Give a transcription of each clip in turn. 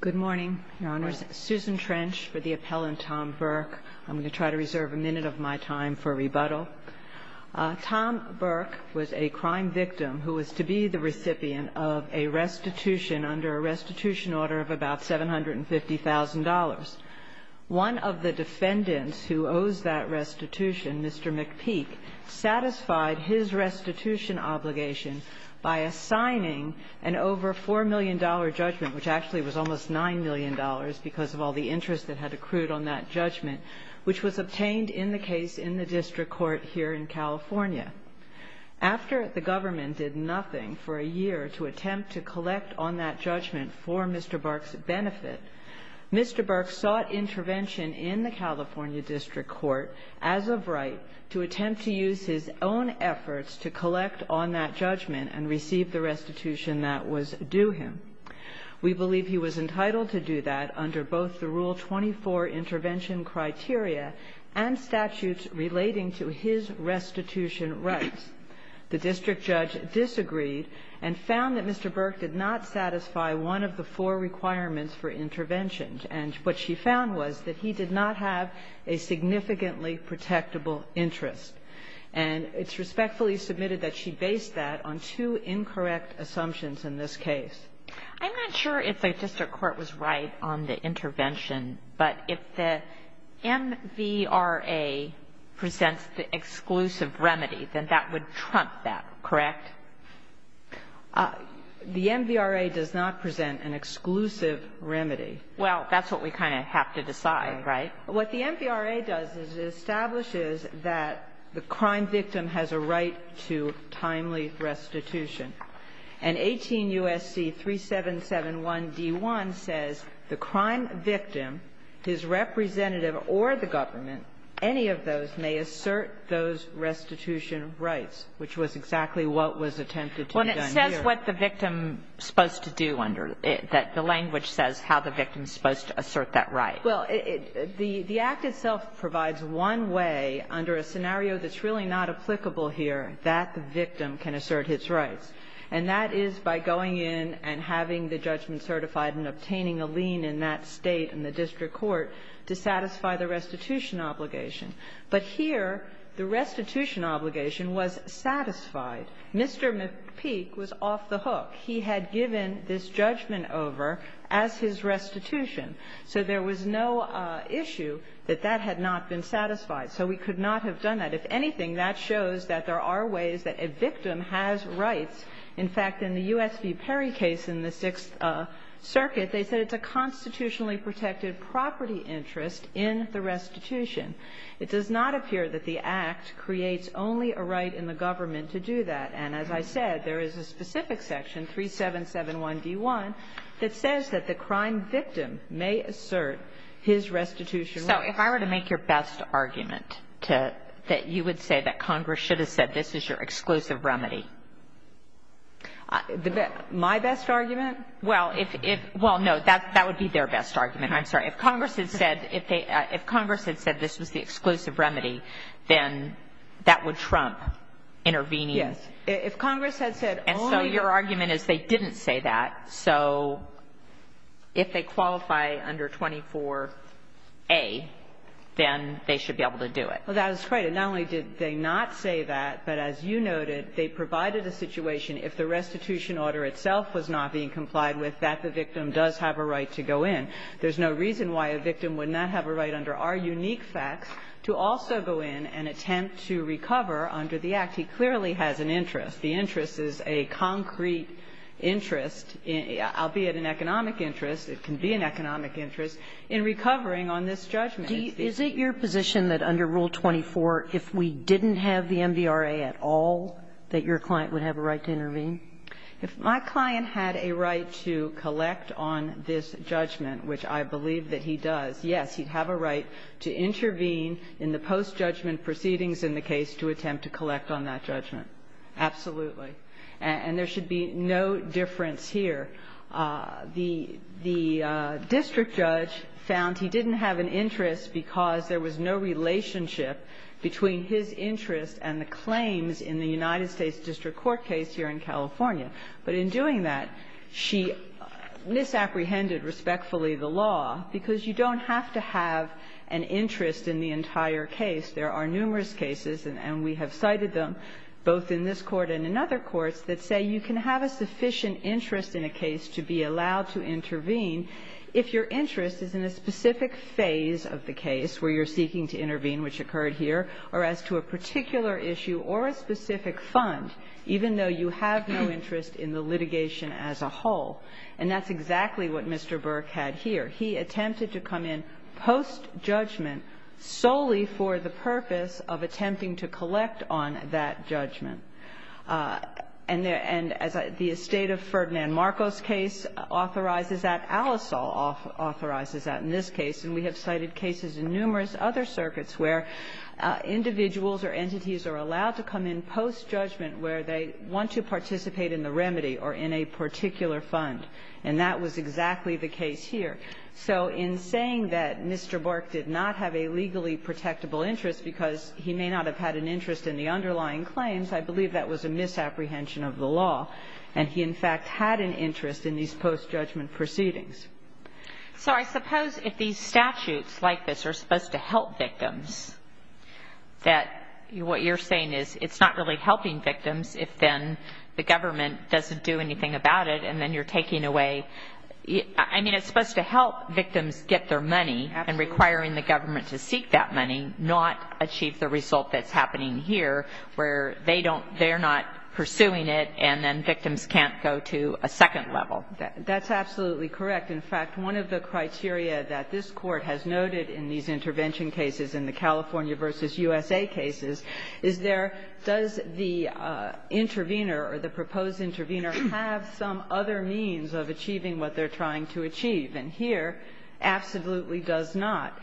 Good morning, Your Honors. Susan Trench for the appellant, Tom Burke. I'm going to try to reserve a minute of my time for rebuttal. Tom Burke was a crime victim who was to be the recipient of a restitution under a restitution order of about $750,000. One of the defendants who owes that restitution, Mr. McPeak, satisfied his restitution obligation by assigning an over $4 million judgment, which actually was almost $9 million, because of all the interest that had accrued on that judgment, which was obtained in the case in the district court here in California. After the government did nothing for a year to attempt to collect on that judgment for Mr. Burke's benefit, Mr. Burke sought intervention in the California district court, as of right, to attempt to use his own efforts to collect on that judgment and receive the restitution that was due him. We believe he was entitled to do that under both the Rule 24 intervention criteria and statutes relating to his restitution rights. The district judge disagreed and found that Mr. Burke did not satisfy one of the four requirements for intervention. And what she found was that he did not have a significantly protectable interest. And it's respectfully submitted that she based that on two incorrect assumptions in this case. I'm not sure if the district court was right on the intervention, but if the MVRA presents the exclusive remedy, then that would trump that, correct? The MVRA does not present an exclusive remedy. Well, that's what we kind of have to decide, right? What the MVRA does is it establishes that the crime victim has a right to timely restitution. And 18 U.S.C. 3771d1 says the crime victim, his representative or the government, any of those may assert those restitution rights, which was exactly what was attempted to be done here. Well, and it says what the victim is supposed to do under the language says how the victim is supposed to assert that right. Well, the Act itself provides one way under a scenario that's really not applicable here that the victim can assert his rights. And that is by going in and having the judgment certified and obtaining a lien in that State and the district court to satisfy the restitution obligation. But here, the restitution obligation was satisfied. Mr. McPeak was off the hook. He had given this judgment over as his restitution. So there was no issue that that had not been satisfied. So we could not have done that. If anything, that shows that there are ways that a victim has rights. In fact, in the U.S. v. Perry case in the Sixth Circuit, they said it's a constitutionally protected property interest in the restitution. It does not appear that the Act creates only a right in the government to do that. And as I said, there is a specific section, 3771d1, that says that the crime victim may assert his restitution rights. So if I were to make your best argument to that, you would say that Congress should have said this is your exclusive remedy. My best argument? Well, if it well, no, that that would be their best argument. I'm sorry. If Congress had said if they if Congress had said this was the exclusive remedy, then that would trump intervening. Yes. If Congress had said only. And so your argument is they didn't say that. So if they qualify under 24a, then they should be able to do it. Well, that is right. And not only did they not say that, but as you noted, they provided a situation if the restitution order itself was not being complied with, that the victim does have a right to go in. There's no reason why a victim would not have a right under our unique facts to also go in and attempt to recover under the Act. He clearly has an interest. The interest is a concrete interest, albeit an economic interest. It can be an economic interest in recovering on this judgment. Is it your position that under Rule 24, if we didn't have the MVRA at all, that your client would have a right to intervene? If my client had a right to collect on this judgment, which I believe that he does, yes, he'd have a right to intervene in the post-judgment proceedings in the case to attempt to collect on that judgment. Absolutely. And there should be no difference here. The district judge found he didn't have an interest because there was no relationship between his interest and the claims in the United States district court case here in California. But in doing that, she misapprehended respectfully the law, because you don't have to have an interest in the entire case. There are numerous cases, and we have cited them, both in this Court and in other courts, that say you can have a sufficient interest in a case to be allowed to intervene if your interest is in a specific phase of the case where you're seeking to intervene, which occurred here, or as to a particular issue or a specific fund, even though you have no interest in the litigation as a whole. And that's exactly what Mr. Burke had here. He attempted to come in post-judgment solely for the purpose of attempting to collect on that judgment. And the estate of Ferdinand Marcos case authorizes that. Alisal authorizes that in this case. And we have cited cases in numerous other circuits where individuals or entities are allowed to come in post-judgment where they want to participate in the remedy or in a particular fund. And that was exactly the case here. So in saying that Mr. Burke did not have a legally protectable interest because he may not have had an interest in the underlying claims, I believe that was a misapprehension of the law. And he, in fact, had an interest in these post-judgment proceedings. So I suppose if these statutes like this are supposed to help victims, that what you're saying is it's not really helping victims if then the government doesn't do anything about it, and then you're taking away – I mean, it's supposed to help victims get their money and requiring the government to seek that money, not achieve the result that's happening here where they don't – they're not pursuing it, and then victims can't go to a second level. That's absolutely correct. In fact, one of the criteria that this Court has noted in these intervention cases, in the California v. USA cases, is there – does the intervener or the proposed intervener have some other means of achieving what they're trying to achieve? And here, absolutely does not.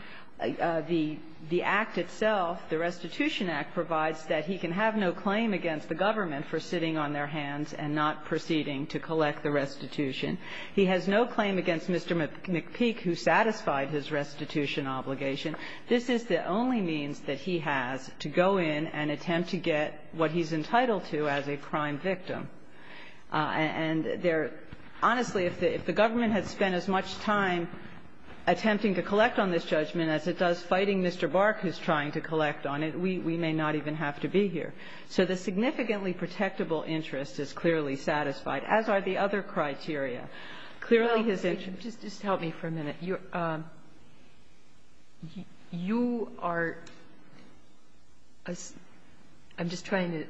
The Act itself, the Restitution Act, provides that he can have no claim against the government for sitting on their hands and not proceeding to collect the restitution. He has no claim against Mr. McPeak, who satisfied his restitution obligation. This is the only means that he has to go in and attempt to get what he's entitled to as a crime victim. And there – honestly, if the government had spent as much time attempting to collect on this judgment as it does fighting Mr. Bark, who's trying to collect on it, we may not even have to be here. So the significantly protectable interest is clearly satisfied, as are the other criteria. Clearly, his interest – Well, just help me for a minute. You are – I'm just trying to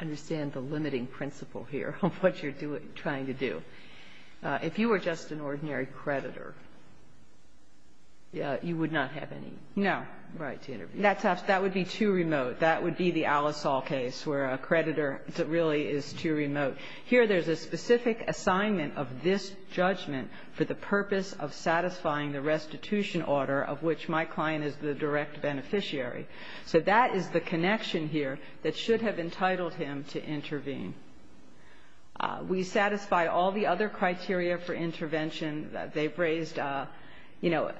understand the limiting principle of this. The limiting principle here of what you're doing – trying to do. If you were just an ordinary creditor, you would not have any right to intervene. No. That would be too remote. That would be the Alesol case, where a creditor really is too remote. Here, there's a specific assignment of this judgment for the purpose of satisfying the restitution order of which my client is the direct beneficiary. So that is the connection here that should have entitled him to intervene. We satisfy all the other criteria for intervention that they've raised. You know,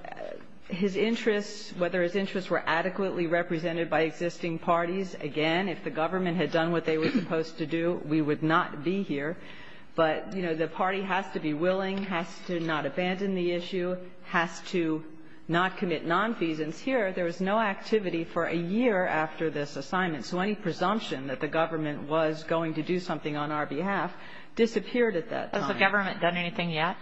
his interests – whether his interests were adequately represented by existing parties – again, if the government had done what they were supposed to do, we would not be here. But, you know, the party has to be willing, has to not abandon the issue, has to not commit nonfeasance. Here, there was no activity for a year after this assignment. So any presumption that the government was going to do something on our behalf disappeared at that time. Has the government done anything yet?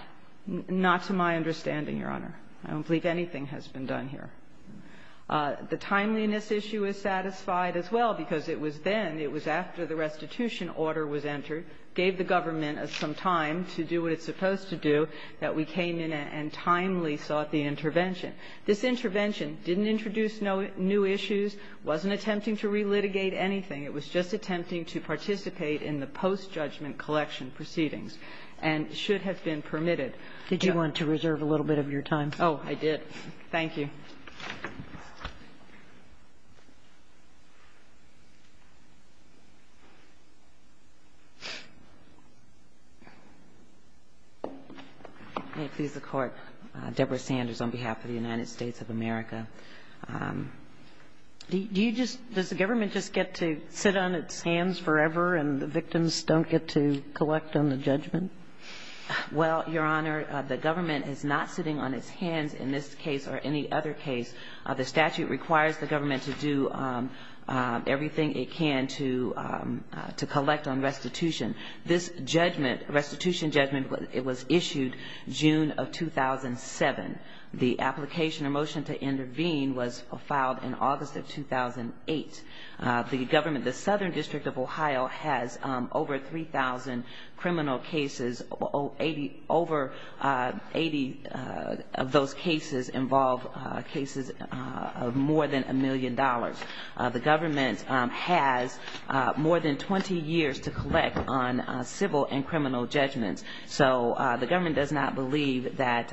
Not to my understanding, Your Honor. I don't believe anything has been done here. The timeliness issue is satisfied as well, because it was then, it was after the restitution order was entered, gave the government some time to do what it's supposed to do, that we came in and timely sought the intervention. This intervention didn't introduce no new issues, wasn't attempting to relitigate anything. It was just attempting to participate in the post-judgment collection proceedings and should have been permitted. Did you want to reserve a little bit of your time? Oh, I did. Thank you. May it please the Court. Deborah Sanders on behalf of the United States of America. Do you just, does the government just get to sit on its hands forever and the victims don't get to collect on the judgment? Well, Your Honor, the government is not sitting on its hands in this case or any other case. The statute requires the government to do everything it can to collect on restitution. This judgment, restitution judgment, it was issued June of 2007. The application or motion to intervene was filed in August of 2008. The government, the Southern District of Ohio has over 3,000 criminal cases. Over 80 of those cases involve cases of more than a million dollars. The government has more than 20 years to collect on civil and criminal judgments. So the government does not believe that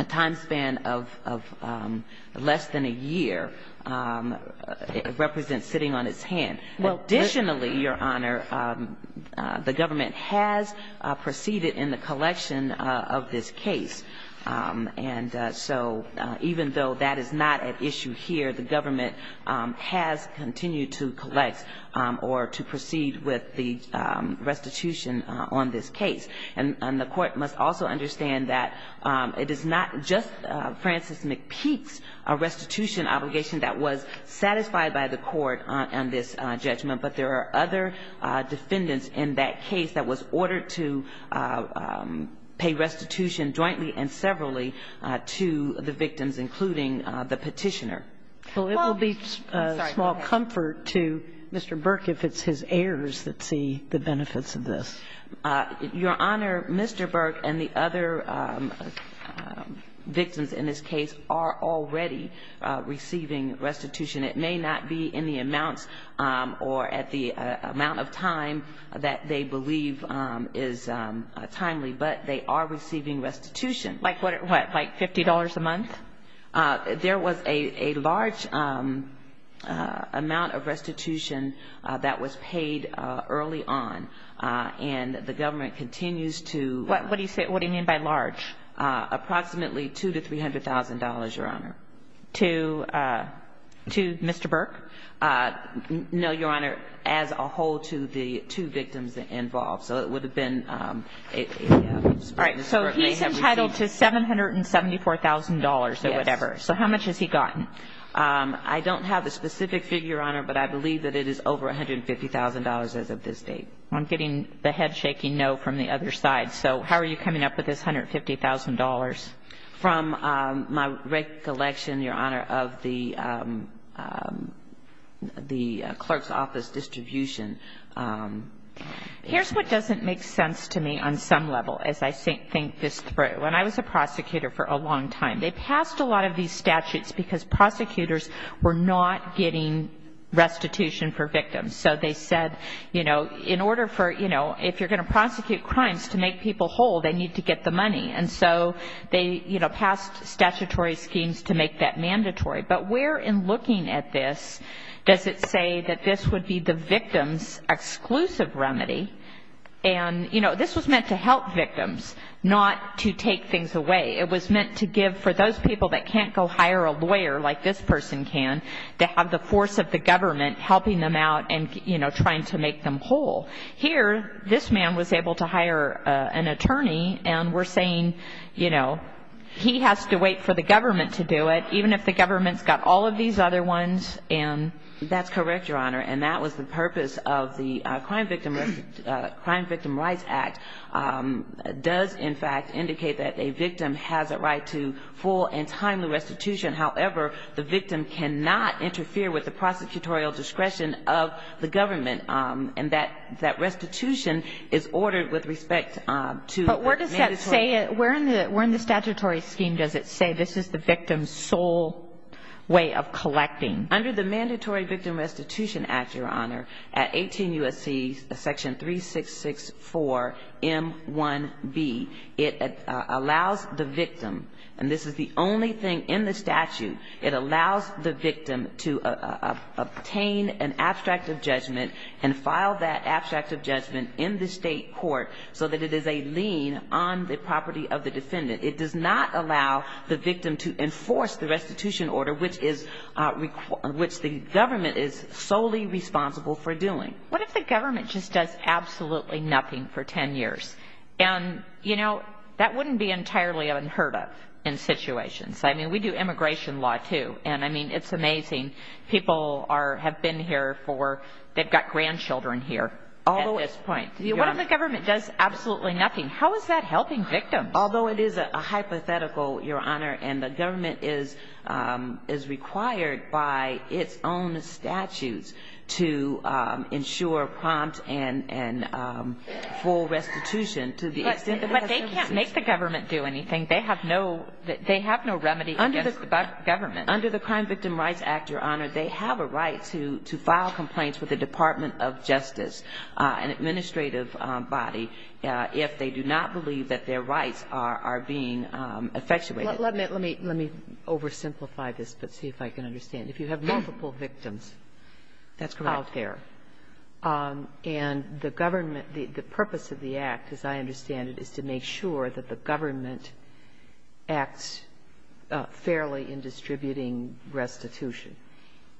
a time span of less than a year represents sitting on its hand. Additionally, Your Honor, the government has proceeded in the collection of this case. And so even though that is not at issue here, the government has continued to collect or to proceed with the restitution on this case. And the court must also understand that it is not just Francis McPeak's restitution obligation that was satisfied by the court on this judgment, but there are other defendants in that case that was ordered to pay restitution jointly and severally to the victims, including the Petitioner. Well, it will be small comfort to Mr. Burke if it's his heirs that see the benefits of this. Your Honor, Mr. Burke and the other victims in this case are already receiving restitution. It may not be in the amounts or at the amount of time that they believe is timely, but they are receiving restitution. Like what? Like $50 a month? There was a large amount of restitution that was paid early on, and the government continues to... What do you mean by large? Approximately $200,000 to $300,000, Your Honor. To Mr. Burke? No, Your Honor. As a whole to the two victims involved. So it would have been... All right. So he's entitled to $774,000 or whatever. So how much has he gotten? I don't have the specific figure, Your Honor, but I believe that it is over $150,000 as of this date. I'm getting the head shaking no from the other side. So how are you coming up with this $150,000? From my recollection, Your Honor, of the clerk's office distribution. Here's what doesn't make sense to me on some level as I think this through. When I was a prosecutor for a long time, they passed a lot of these statutes because prosecutors were not getting restitution for victims. So they said, you know, in order for, you know, if you're going to prosecute crimes to make people whole, they need to get the money. And so they, you know, passed statutory schemes to make that mandatory. But where in looking at this does it say that this would be the victim's exclusive remedy? And, you know, this was meant to help victims, not to take things away. It was meant to give for those people that can't go hire a lawyer like this person can, to have the force of the government helping them out and, you know, trying to make them whole. Here, this man was able to hire an attorney, and we're saying, you know, he has to wait for the government to do it, even if the government's got all of these other ones. That's correct, Your Honor, and that was the purpose of the Crime Victim Rights Act. It does, in fact, indicate that a victim has a right to full and timely restitution. However, the victim cannot interfere with the prosecutorial discretion of the government. And that restitution is ordered with respect to the mandatory. But where in the statutory scheme does it say this is the victim's sole way of collecting? Under the Mandatory Victim Restitution Act, Your Honor, at 18 U.S.C. section 3664 M1B, it allows the victim, and this is the only thing in the statute, it allows the victim to obtain an abstract of judgment and file that abstract of judgment in the state court so that it is a lien on the property of the defendant. It does not allow the victim to enforce the restitution order, which the government is solely responsible for doing. What if the government just does absolutely nothing for 10 years? And, you know, that wouldn't be entirely unheard of in situations. I mean, we do immigration law, too. And, I mean, it's amazing. People have been here for, they've got grandchildren here at this point. What if the government does absolutely nothing? How is that helping victims? Although it is a hypothetical, Your Honor, and the government is required by its own statutes to ensure prompt and full restitution to the extent that it has to. But they can't make the government do anything. They have no remedy against the government. Under the Crime Victim Rights Act, Your Honor, they have a right to file complaints with the Department of Justice, an administrative body, if they do not believe that their rights are being effectuated. Let me oversimplify this, but see if I can understand. If you have multiple victims out there, and the government, the purpose of the act, as I understand it, is to make sure that the government acts fairly in distributing restitution,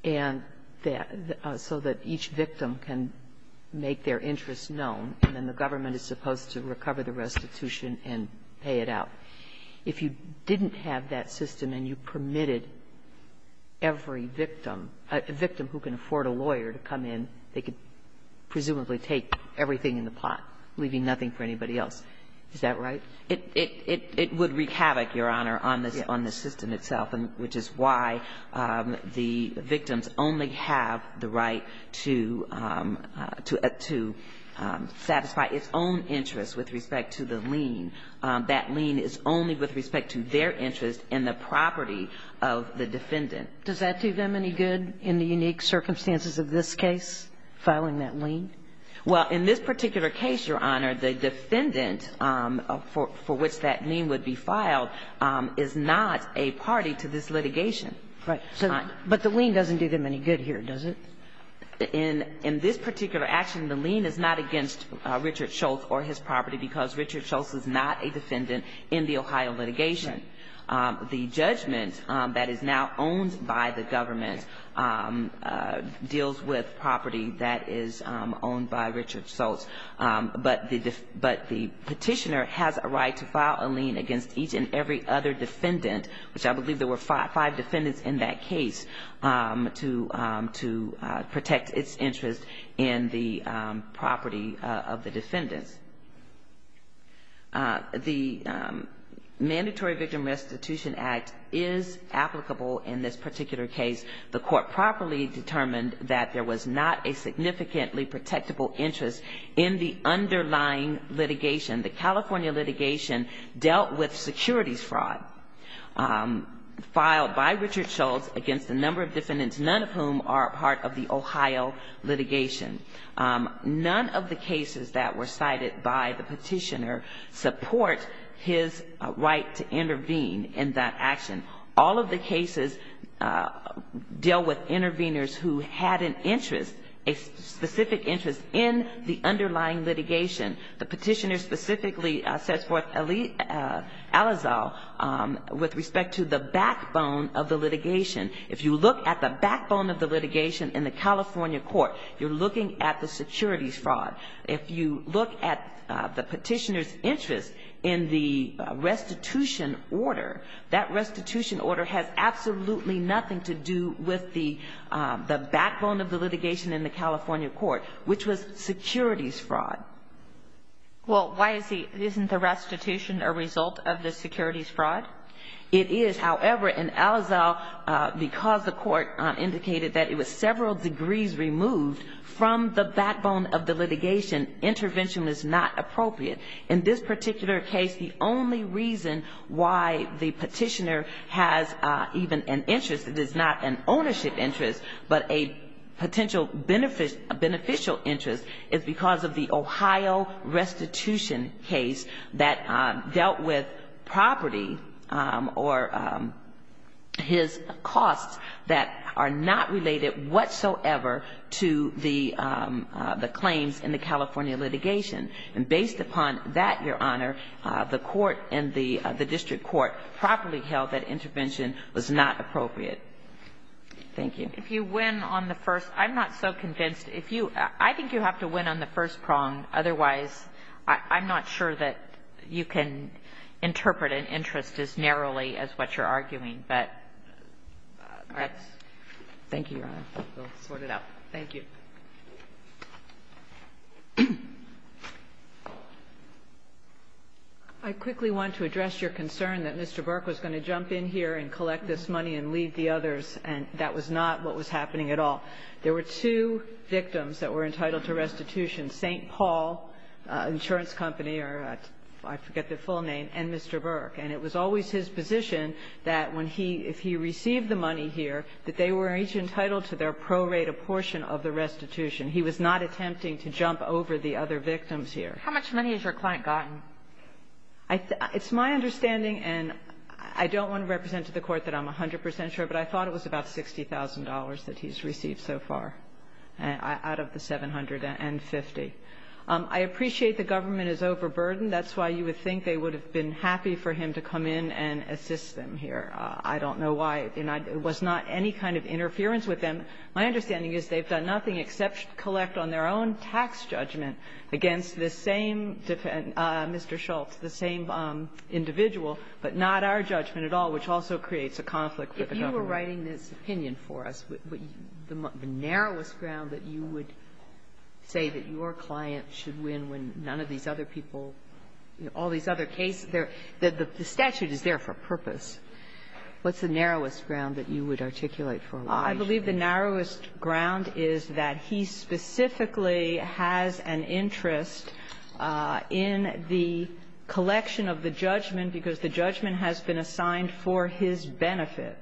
and that so that each victim can make their interest known, and then the government is supposed to recover the restitution and pay it out. If you didn't have that system and you permitted every victim, a victim who can afford a lawyer to come in, they could presumably take everything in the pot, leaving nothing for anybody else. Is that right? It would wreak havoc, Your Honor, on the system itself, which is why the victims only have the right to satisfy its own interests with respect to the lien. That lien is only with respect to their interest in the property of the defendant. Does that do them any good in the unique circumstances of this case, filing that lien? Well, in this particular case, Your Honor, the defendant for which that lien would be filed is not a party to this litigation. Right. But the lien doesn't do them any good here, does it? In this particular action, the lien is not against Richard Schultz or his property because Richard Schultz is not a defendant in the Ohio litigation. The judgment that is now owned by the government deals with property that is owned by Richard Schultz. But the petitioner has a right to file a lien against each and every other defendant, which I believe there were five defendants in that case, to protect its interest in the property of the defendants. The Mandatory Victim Restitution Act is applicable in this particular case. The court properly determined that there was not a significantly protectable interest in the underlying litigation. The California litigation dealt with securities fraud filed by Richard Schultz against a number of defendants, none of whom are part of the Ohio litigation. None of the cases that were cited by the petitioner support his right to intervene in that action. All of the cases deal with intervenors who had an interest, a specific interest, in the underlying litigation. The petitioner specifically sets forth Alizal with respect to the backbone of the litigation. If you look at the backbone of the litigation in the California court, you're looking at the securities fraud. If you look at the petitioner's interest in the restitution order, that restitution order has absolutely nothing to do with the backbone of the litigation in the California court, which was securities fraud. Well, why is the restitution a result of the securities fraud? It is. However, in Alizal, because the court indicated that it was several degrees removed from the backbone of the litigation, intervention was not appropriate. In this particular case, the only reason why the petitioner has even an interest that is not an ownership interest but a potential beneficial interest is because of the Ohio restitution case that dealt with property or his costs that are not related whatsoever to the claims in the California litigation. And based upon that, Your Honor, the court and the district court properly held that intervention was not appropriate. Thank you. If you win on the first – I'm not so convinced. If you – I think you have to win on the first prong. Otherwise, I'm not sure that you can interpret an interest as narrowly as what you're arguing. But that's – Thank you, Your Honor. We'll sort it out. Thank you. I quickly want to address your concern that Mr. Burke was going to jump in here and collect this money and leave the others, and that was not what was happening at all. There were two victims that were entitled to restitution, St. Paul Insurance Company or – I forget their full name – and Mr. Burke. And it was always his position that when he – if he received the money here, that they were each entitled to their prorated portion of the restitution. He was not attempting to jump over the other victims here. How much money has your client gotten? It's my understanding, and I don't want to represent to the court that I'm 100 percent sure, but I thought it was about $60,000 that he's received so far out of the $750,000. I appreciate the government is overburdened. That's why you would think they would have been happy for him to come in and assist them here. I don't know why – and it was not any kind of interference with them. My understanding is they've done nothing except collect on their own tax judgment against the same – Mr. Schultz, the same individual, but not our judgment at all, which also creates a conflict with the government. If you were writing this opinion for us, the narrowest ground that you would say that your client should win when none of these other people – all these other cases, the statute is there for purpose. What's the narrowest ground that you would articulate for a lawyer? I believe the narrowest ground is that he specifically has an interest in the collection of the judgment because the judgment has been assigned for his benefit,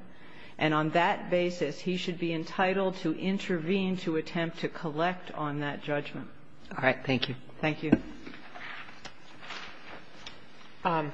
and on that basis, he should be entitled to intervene to attempt to collect on that judgment. All right. Thank you. Thank you. Thank you.